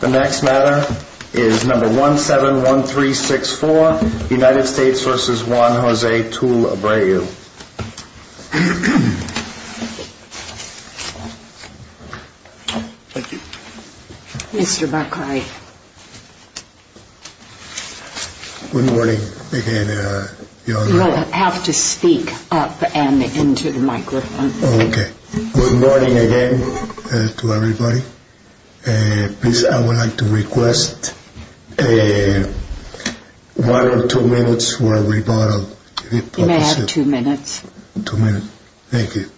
The next matter is number 171364, United States v. Juan Jose Tull-Abreu. Thank you. Mr. Buckeye. Good morning again, Your Honor. You will have to speak up and into the microphone. Okay. Good morning again to everybody. Please, I would like to request one or two minutes for a rebuttal. You may have two minutes. Two minutes. Thank you.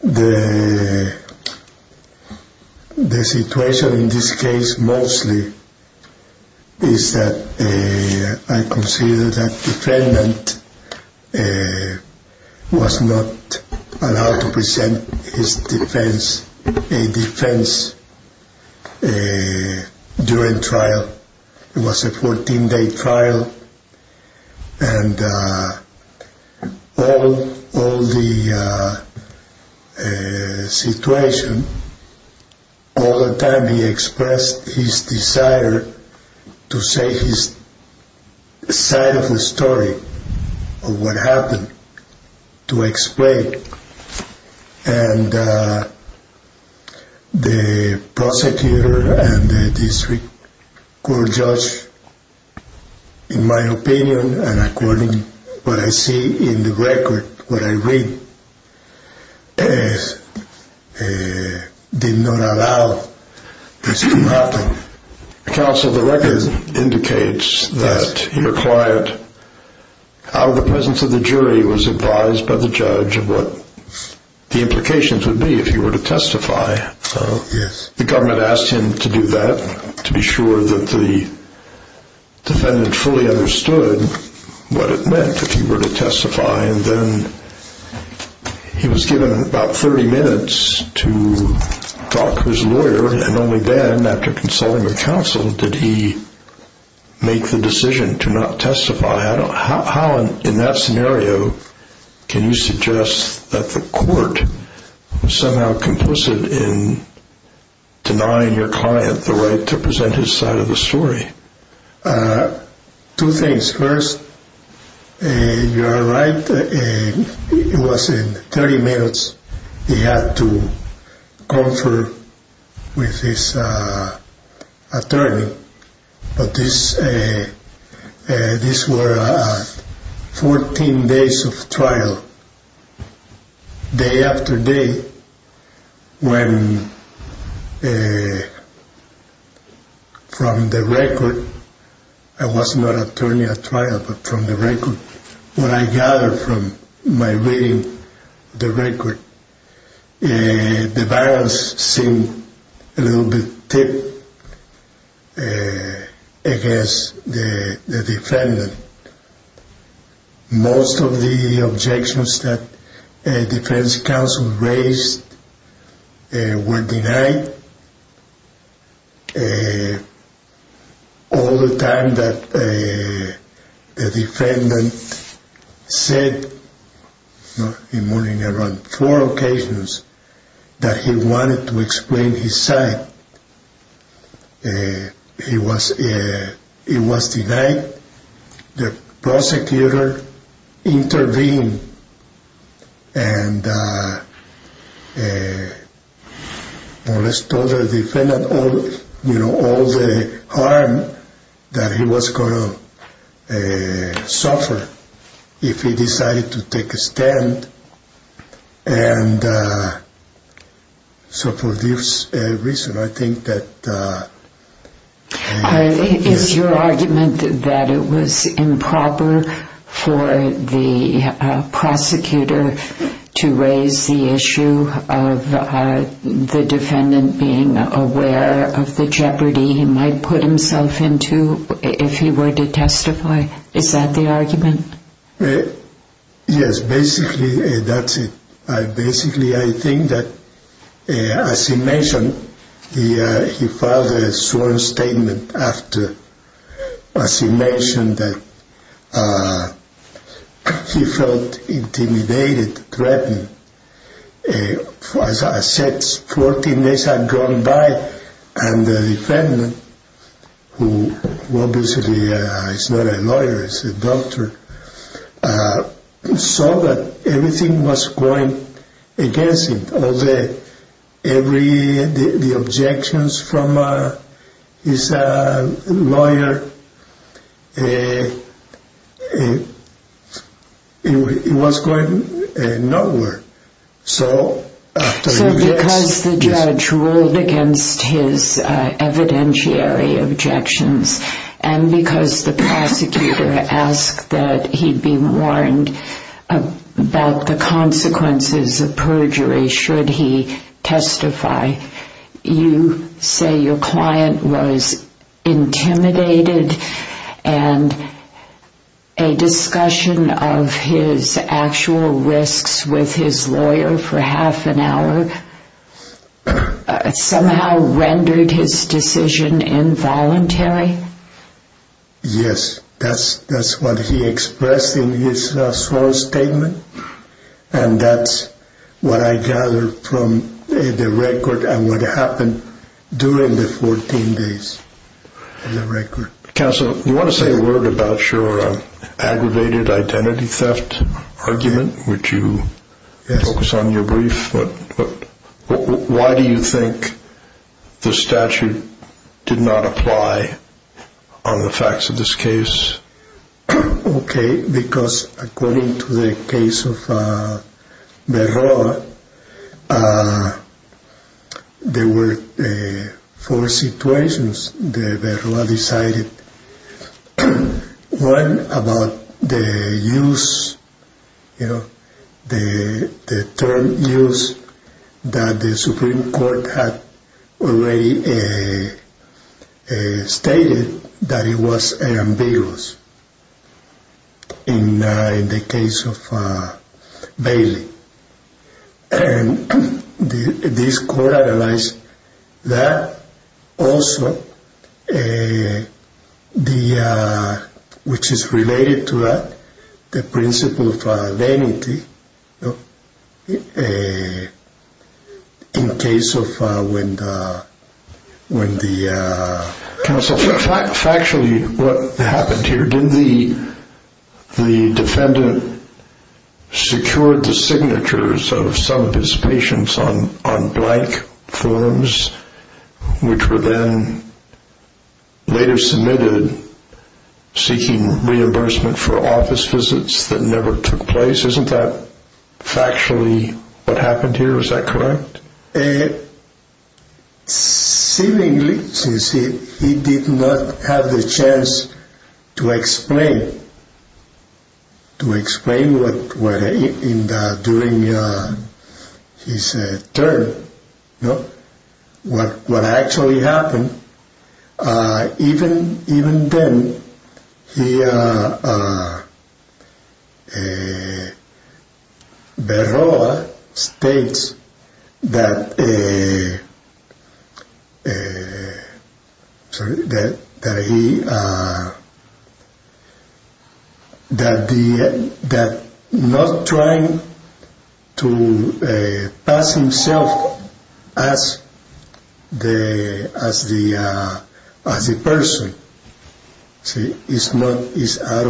The situation in this case mostly is that I consider that the defendant was not allowed to present his defense during trial. It was a 14-day trial, and all the situation, all the time he expressed his desire to say his side of the story of what happened, to explain. And the prosecutor and the district court judge, in my opinion, and according to what I see in the record, what I read, did not allow this to happen. Counsel, the record indicates that your client, out of the presence of the jury, was advised by the judge of what the implications would be if he were to testify. Yes. The government asked him to do that, to be sure that the defendant fully understood what it meant if he were to testify, and then he was given about 30 minutes to talk to his lawyer, and only then, after consulting with counsel, did he make the decision to not testify. How, in that scenario, can you suggest that the court was somehow complicit in denying your client the right to present his side of the story? Two things. First, you are right, it was in 30 minutes he had to confer with his attorney. But these were 14 days of trial, day after day, when, from the record, I was not attorney at trial, but from the record, when I gathered from my reading the record, the balance seemed a little bit tipped against the defendant. Most of the objections that defense counsel raised were denied. All the time that the defendant said, in more than four occasions, that he wanted to explain his side, it was denied. But the prosecutor intervened and molested the defendant, all the harm that he was going to suffer if he decided to take a stand. And so for this reason, I think that... Is your argument that it was improper for the prosecutor to raise the issue of the defendant being aware of the jeopardy he might put himself into if he were to testify? Is that the argument? Yes, basically, that's it. Basically, I think that, as he mentioned, he filed a sworn statement after, as he mentioned, that he felt intimidated, threatened. As I said, 14 days had gone by, and the defendant, who obviously is not a lawyer, is a doctor, saw that everything was going against him. The objections from his lawyer, it was going nowhere. So because the judge ruled against his evidentiary objections, and because the prosecutor asked that he be warned about the consequences of perjury should he testify, you say your client was intimidated, and a discussion of his actual risks with his lawyer for half an hour somehow rendered his decision involuntary? Yes, that's what he expressed in his sworn statement, and that's what I gathered from the record and what happened during the 14 days in the record. Counsel, you want to say a word about your aggravated identity theft argument, which you focus on in your brief, but why do you think the statute did not apply on the facts of this case? Okay, because according to the case of Verroa, there were four situations that Verroa decided. One about the use, the term use that the Supreme Court had already stated that it was ambiguous in the case of Bailey. And this court analyzed that also, which is related to that, the principle of vanity in case of when the... Counsel, factually what happened here, didn't the defendant secure the signatures of some of his patients on blank forms, which were then later submitted seeking reimbursement for office visits that never took place? Isn't that factually what happened here, is that correct? Seemingly, since he did not have the chance to explain during his term what actually happened. Even then, Verroa states that he... As a person, it's out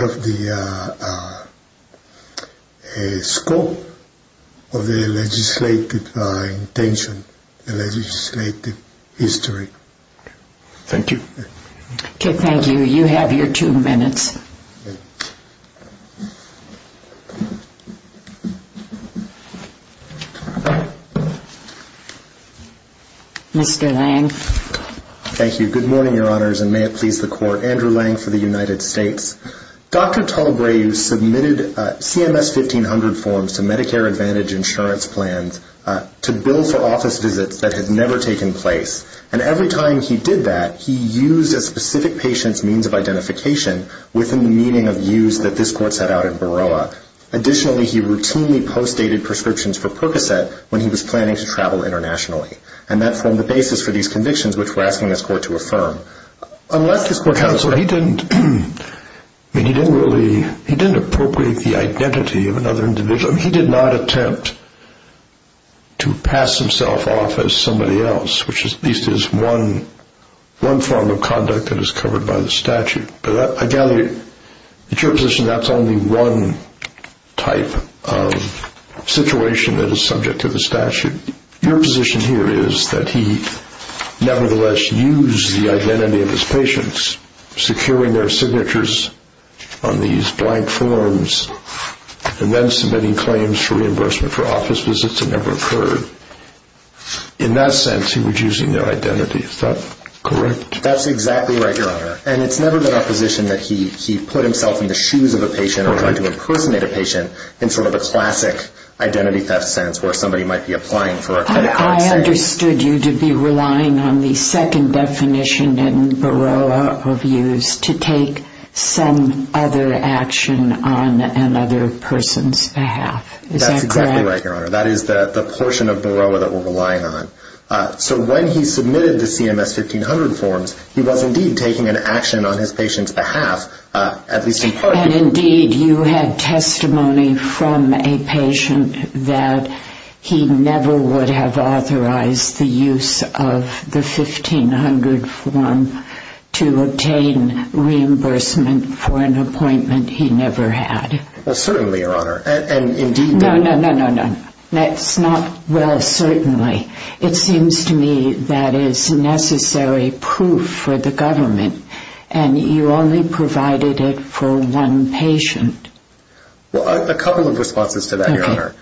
of the scope of the legislative intention, the legislative history. Thank you. Okay, thank you. You have your two minutes. Mr. Lang. Thank you. Good morning, Your Honors, and may it please the Court. Andrew Lang for the United States. Dr. Talbrae submitted CMS 1500 forms to Medicare Advantage insurance plans to bill for office visits that had never taken place. And every time he did that, he used a specific patient's means of identification within the meaning of use that this Court set out in Verroa. Additionally, he routinely post-dated prescriptions for Percocet when he was planning to travel internationally. And that formed the basis for these convictions, which we're asking this Court to affirm. Unless this Court... Counselor, he didn't... I mean, he didn't really... he didn't appropriate the identity of another individual. I mean, he did not attempt to pass himself off as somebody else, which at least is one form of conduct that is covered by the statute. But I gather, at your position, that's only one type of situation that is subject to the statute. Your position here is that he nevertheless used the identity of his patients, securing their signatures on these blank forms, and then submitting claims for reimbursement for office visits that never occurred. In that sense, he was using their identity. Is that correct? That's exactly right, Your Honor. And it's never been our position that he put himself in the shoes of a patient or tried to impersonate a patient in sort of a classic identity theft sense, where somebody might be applying for a Percocet. I understood you to be relying on the second definition in Baroah Reviews to take some other action on another person's behalf. Is that correct? That's exactly right, Your Honor. That is the portion of Baroah that we're relying on. So when he submitted the CMS 1500 forms, he was indeed taking an action on his patient's behalf, at least in part. And indeed, you had testimony from a patient that he never would have authorized the use of the 1500 form to obtain reimbursement for an appointment he never had. No, no, no. That's not well, certainly. It seems to me that is necessary proof for the government, and you only provided it for one patient. Well, a couple of responses to that, Your Honor.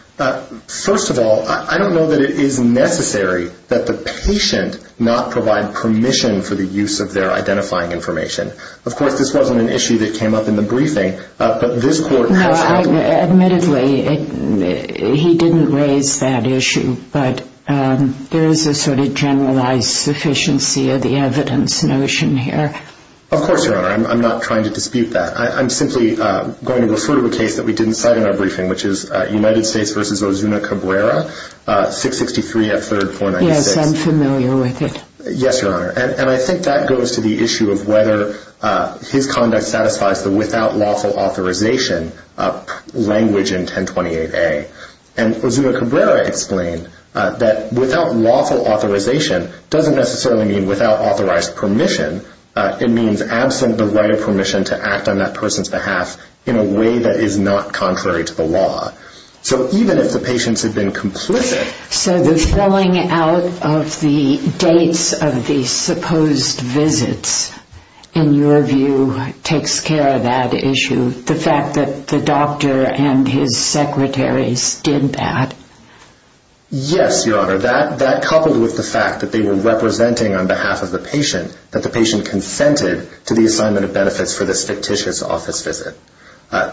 First of all, I don't know that it is necessary that the patient not provide permission for the use of their identifying information. Of course, this wasn't an issue that came up in the briefing, but this court has held it. Admittedly, he didn't raise that issue, but there is a sort of generalized sufficiency of the evidence notion here. Of course, Your Honor. I'm not trying to dispute that. I'm simply going to refer to a case that we didn't cite in our briefing, which is United States v. Ozuna Cabrera, 663 F. 3rd 496. Yes, I'm familiar with it. Yes, Your Honor, and I think that goes to the issue of whether his conduct satisfies the without lawful authorization language in 1028A. And Ozuna Cabrera explained that without lawful authorization doesn't necessarily mean without authorized permission. It means absent the right of permission to act on that person's behalf in a way that is not contrary to the law. So even if the patients had been complicit... So the throwing out of the dates of the supposed visits, in your view, takes care of that issue? The fact that the doctor and his secretaries did that? Yes, Your Honor, that coupled with the fact that they were representing on behalf of the patient, that the patient consented to the assignment of benefits for this fictitious office visit.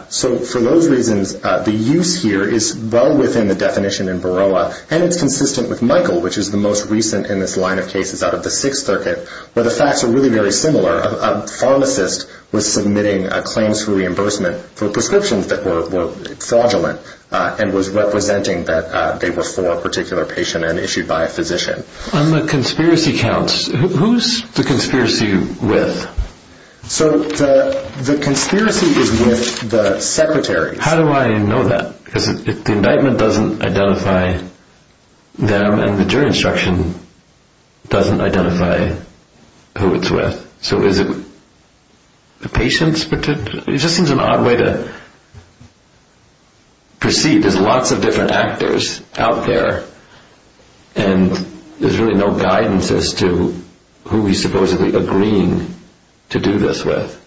So for those reasons, the use here is well within the definition in Baroah, and it's consistent with Michael, which is the most recent in this line of cases out of the Sixth Circuit, where the facts are really very similar. A pharmacist was submitting claims for reimbursement for prescriptions that were fraudulent and was representing that they were for a particular patient and issued by a physician. On the conspiracy counts, who's the conspiracy with? So the conspiracy is with the secretaries. How do I know that? Because the indictment doesn't identify them, and the jury instruction doesn't identify who it's with. So is it the patient's particular...? It just seems an odd way to proceed. There's lots of different actors out there, and there's really no guidance as to who he's supposedly agreeing to do this with.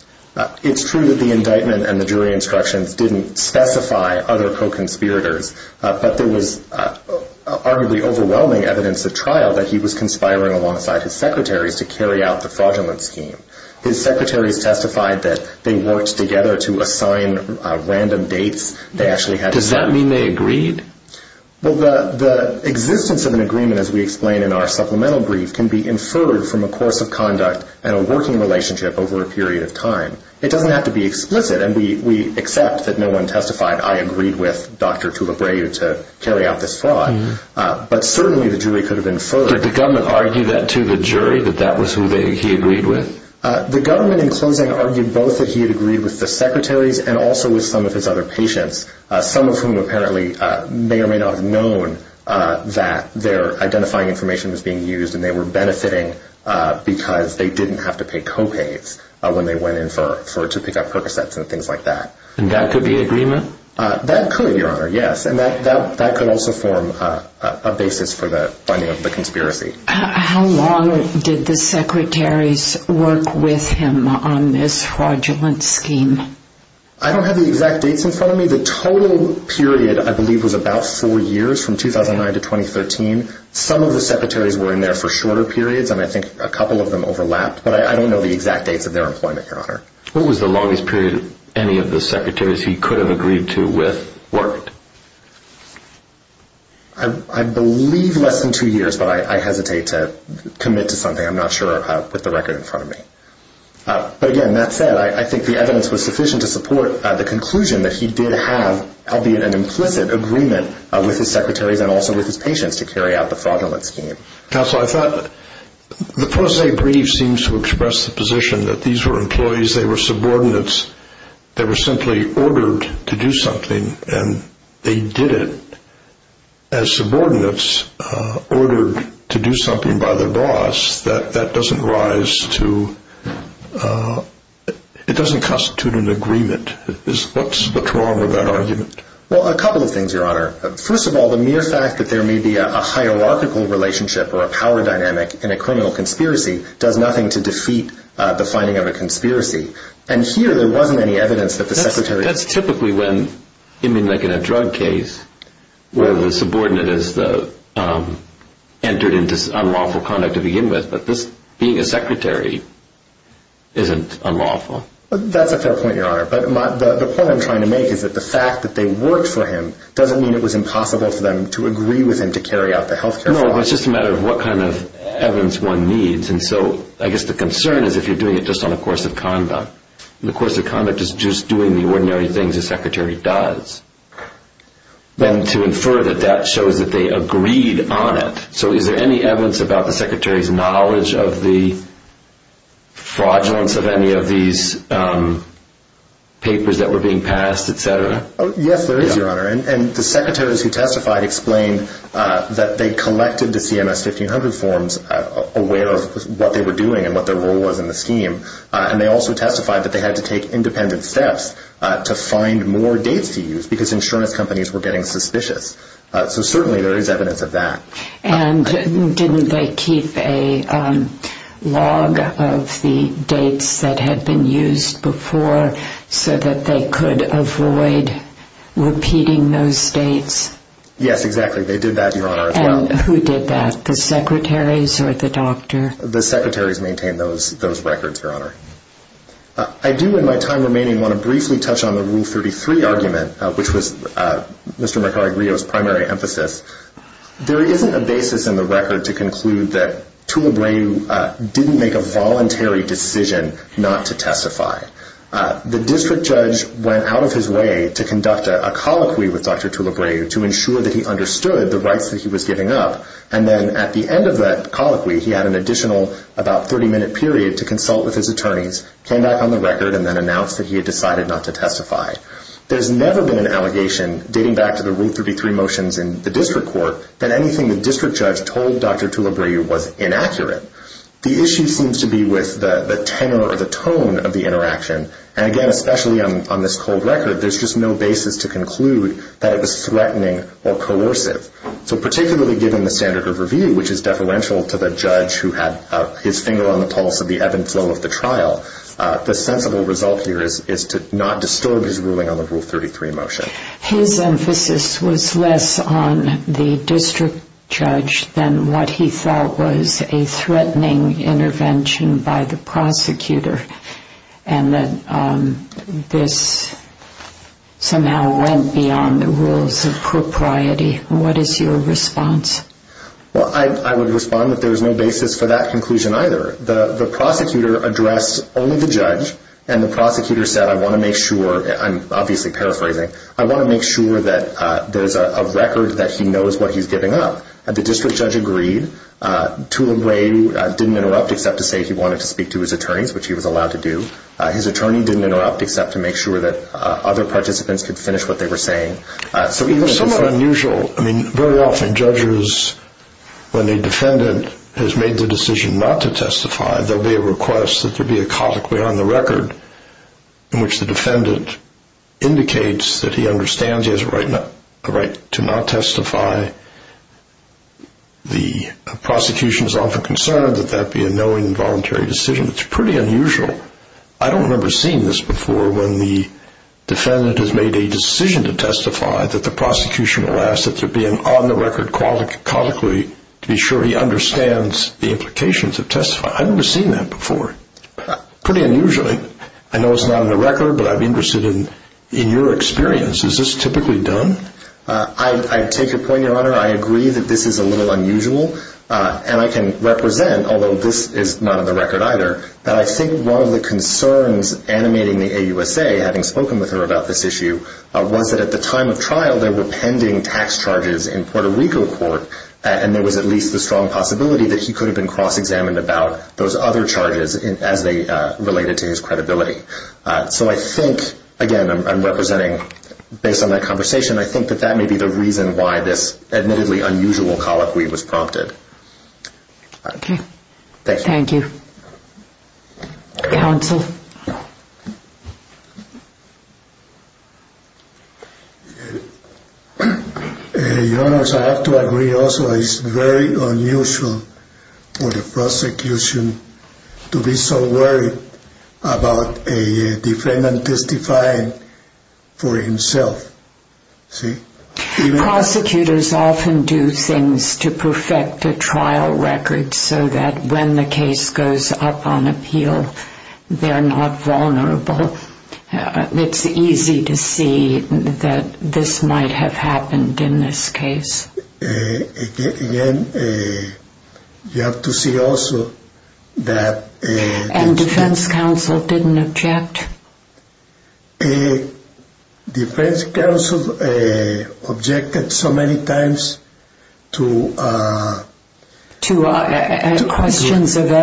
It's true that the indictment and the jury instructions didn't specify other co-conspirators, but there was arguably overwhelming evidence at trial that he was conspiring alongside his secretaries to carry out the fraudulent scheme. His secretaries testified that they worked together to assign random dates. They actually had... Does that mean they agreed? Well, the existence of an agreement, as we explain in our supplemental brief, can be inferred from a course of conduct and a working relationship over a period of time. It doesn't have to be explicit, and we accept that no one testified, I agreed with Dr. Tulip Ray to carry out this fraud, but certainly the jury could have inferred... Did the government argue that to the jury, that that was who he agreed with? The government, in closing, argued both that he had agreed with the secretaries and also with some of his other patients, some of whom apparently may or may not have known that their identifying information was being used, and they were benefiting because they didn't have to pay co-pays when they went in to pick up Percocets and things like that. And that could be agreement? That could, Your Honor, yes, and that could also form a basis for the finding of the conspiracy. How long did the secretaries work with him on this fraudulent scheme? I don't have the exact dates in front of me. The total period, I believe, was about four years, from 2009 to 2013. Some of the secretaries were in there for shorter periods, and I think a couple of them overlapped, but I don't know the exact dates of their employment, Your Honor. What was the longest period any of the secretaries he could have agreed to with worked? I believe less than two years, but I hesitate to commit to something. I'm not sure with the record in front of me. But again, that said, I think the evidence was sufficient to support the conclusion that he did have, albeit an implicit, agreement with his secretaries and also with his patients to carry out the fraudulent scheme. Counsel, I thought the posse brief seems to express the position that these were employees, they were subordinates, they were simply ordered to do something, and they did it. As subordinates ordered to do something by their boss, that doesn't rise to, it doesn't constitute an agreement. What's wrong with that argument? Well, a couple of things, Your Honor. First of all, the mere fact that there may be a hierarchical relationship or a power dynamic in a criminal conspiracy does nothing to defeat the finding of a conspiracy. And here, there wasn't any evidence that the secretaries... That's typically when, I mean, like in a drug case, where the subordinate has entered into unlawful conduct to begin with, but this, being a secretary, isn't unlawful. That's a fair point, Your Honor. But the point I'm trying to make is that the fact that they worked for him doesn't mean it was impossible for them to agree with him to carry out the health care fraud. No, it's just a matter of what kind of evidence one needs. And so, I guess the concern is if you're doing it just on the course of conduct, and the course of conduct is just doing the ordinary things a secretary does, then to infer that that shows that they agreed on it. So, is there any evidence about the secretary's knowledge of the fraudulence of any of these papers that were being passed, etc.? Yes, there is, Your Honor. And the secretaries who testified explained that they collected the CMS 1500 forms aware of what they were doing and what their role was in the scheme. And they also testified that they had to take independent steps to find more dates to use because insurance companies were getting suspicious. So, certainly, there is evidence of that. And didn't they keep a log of the dates that had been used before so that they could avoid repeating those dates? Yes, exactly. They did that, Your Honor, as well. And who did that, the secretaries or the doctor? The secretaries maintained those records, Your Honor. I do, in my time remaining, want to briefly touch on the Rule 33 argument, which was Mr. Mercari-Grillo's primary emphasis. There isn't a basis in the record to conclude that Tulebraeu didn't make a voluntary decision not to testify. The district judge went out of his way to conduct a colloquy with Dr. Tulebraeu to ensure that he understood the rights that he was giving up. And then at the end of that colloquy, he had an additional about 30-minute period to consult with his attorneys, came back on the record, and then announced that he had decided not to testify. There's never been an allegation dating back to the Rule 33 motions in the district court that anything the district judge told Dr. Tulebraeu was inaccurate. The issue seems to be with the tenor or the tone of the interaction. And, again, especially on this cold record, there's just no basis to conclude that it was threatening or coercive. So particularly given the standard of review, which is deferential to the judge who had his finger on the pulse of the ebb and flow of the trial, the sensible result here is to not disturb his ruling on the Rule 33 motion. His emphasis was less on the district judge than what he thought was a threatening intervention by the prosecutor, and that this somehow went beyond the rules of propriety. What is your response? Well, I would respond that there's no basis for that conclusion either. The prosecutor addressed only the judge, and the prosecutor said, I want to make sure, I'm obviously paraphrasing, I want to make sure that there's a record that he knows what he's giving up. The district judge agreed. Tulebraeu didn't interrupt except to say he wanted to speak to his attorneys, which he was allowed to do. His attorney didn't interrupt except to make sure that other participants could finish what they were saying. So it was somewhat unusual. I mean, very often judges, when a defendant has made the decision not to testify, there will be a request that there be a copy on the record in which the defendant indicates that he understands he has a right to not testify. The prosecution is often concerned that that be a knowing and voluntary decision. It's pretty unusual. I don't remember seeing this before when the defendant has made a decision to testify that the prosecution will ask that there be an on-the-record copy to be sure he understands the implications of testifying. I've never seen that before. Pretty unusual. I know it's not on the record, but I'm interested in your experience. Is this typically done? I take your point, Your Honor. I agree that this is a little unusual, and I can represent, although this is not on the record either, that I think one of the concerns animating the AUSA, having spoken with her about this issue, was that at the time of trial there were pending tax charges in Puerto Rico court, and there was at least the strong possibility that he could have been cross-examined about those other charges as they related to his credibility. So I think, again, I'm representing, based on that conversation, I think that that may be the reason why this admittedly unusual colloquy was prompted. Thank you. Thank you. Counsel? Your Honor, I have to agree also. It's very unusual for the prosecution to be so worried about a defendant testifying for himself. See? Prosecutors often do things to perfect a trial record so that when the case goes up on appeal, they're not vulnerable. It's easy to see that this might have happened in this case. Again, you have to see also that... And defense counsel didn't object? Defense counsel objected so many times to... There was no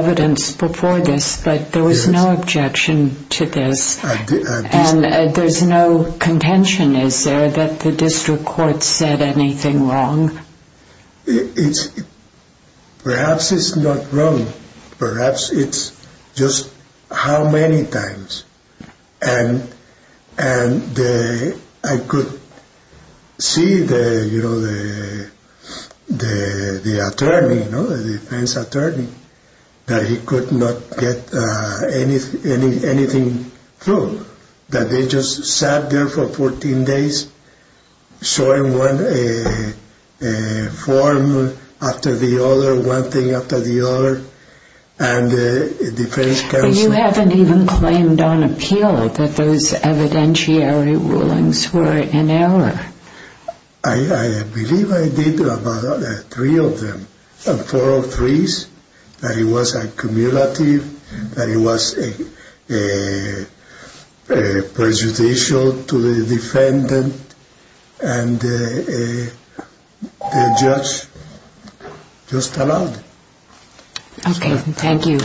objection to this, and there's no contention, is there, that the district court said anything wrong? Perhaps it's not wrong. Perhaps it's just how many times. And I could see the attorney, the defense attorney, that he could not get anything through, that they just sat there for 14 days showing one form after the other, one thing after the other, and the defense counsel... You haven't even claimed on appeal that those evidentiary rulings were in error. I believe I did about three of them, four of threes, that it was accumulative, that it was prejudicial to the defendant, and the judge just allowed it. Okay, thank you.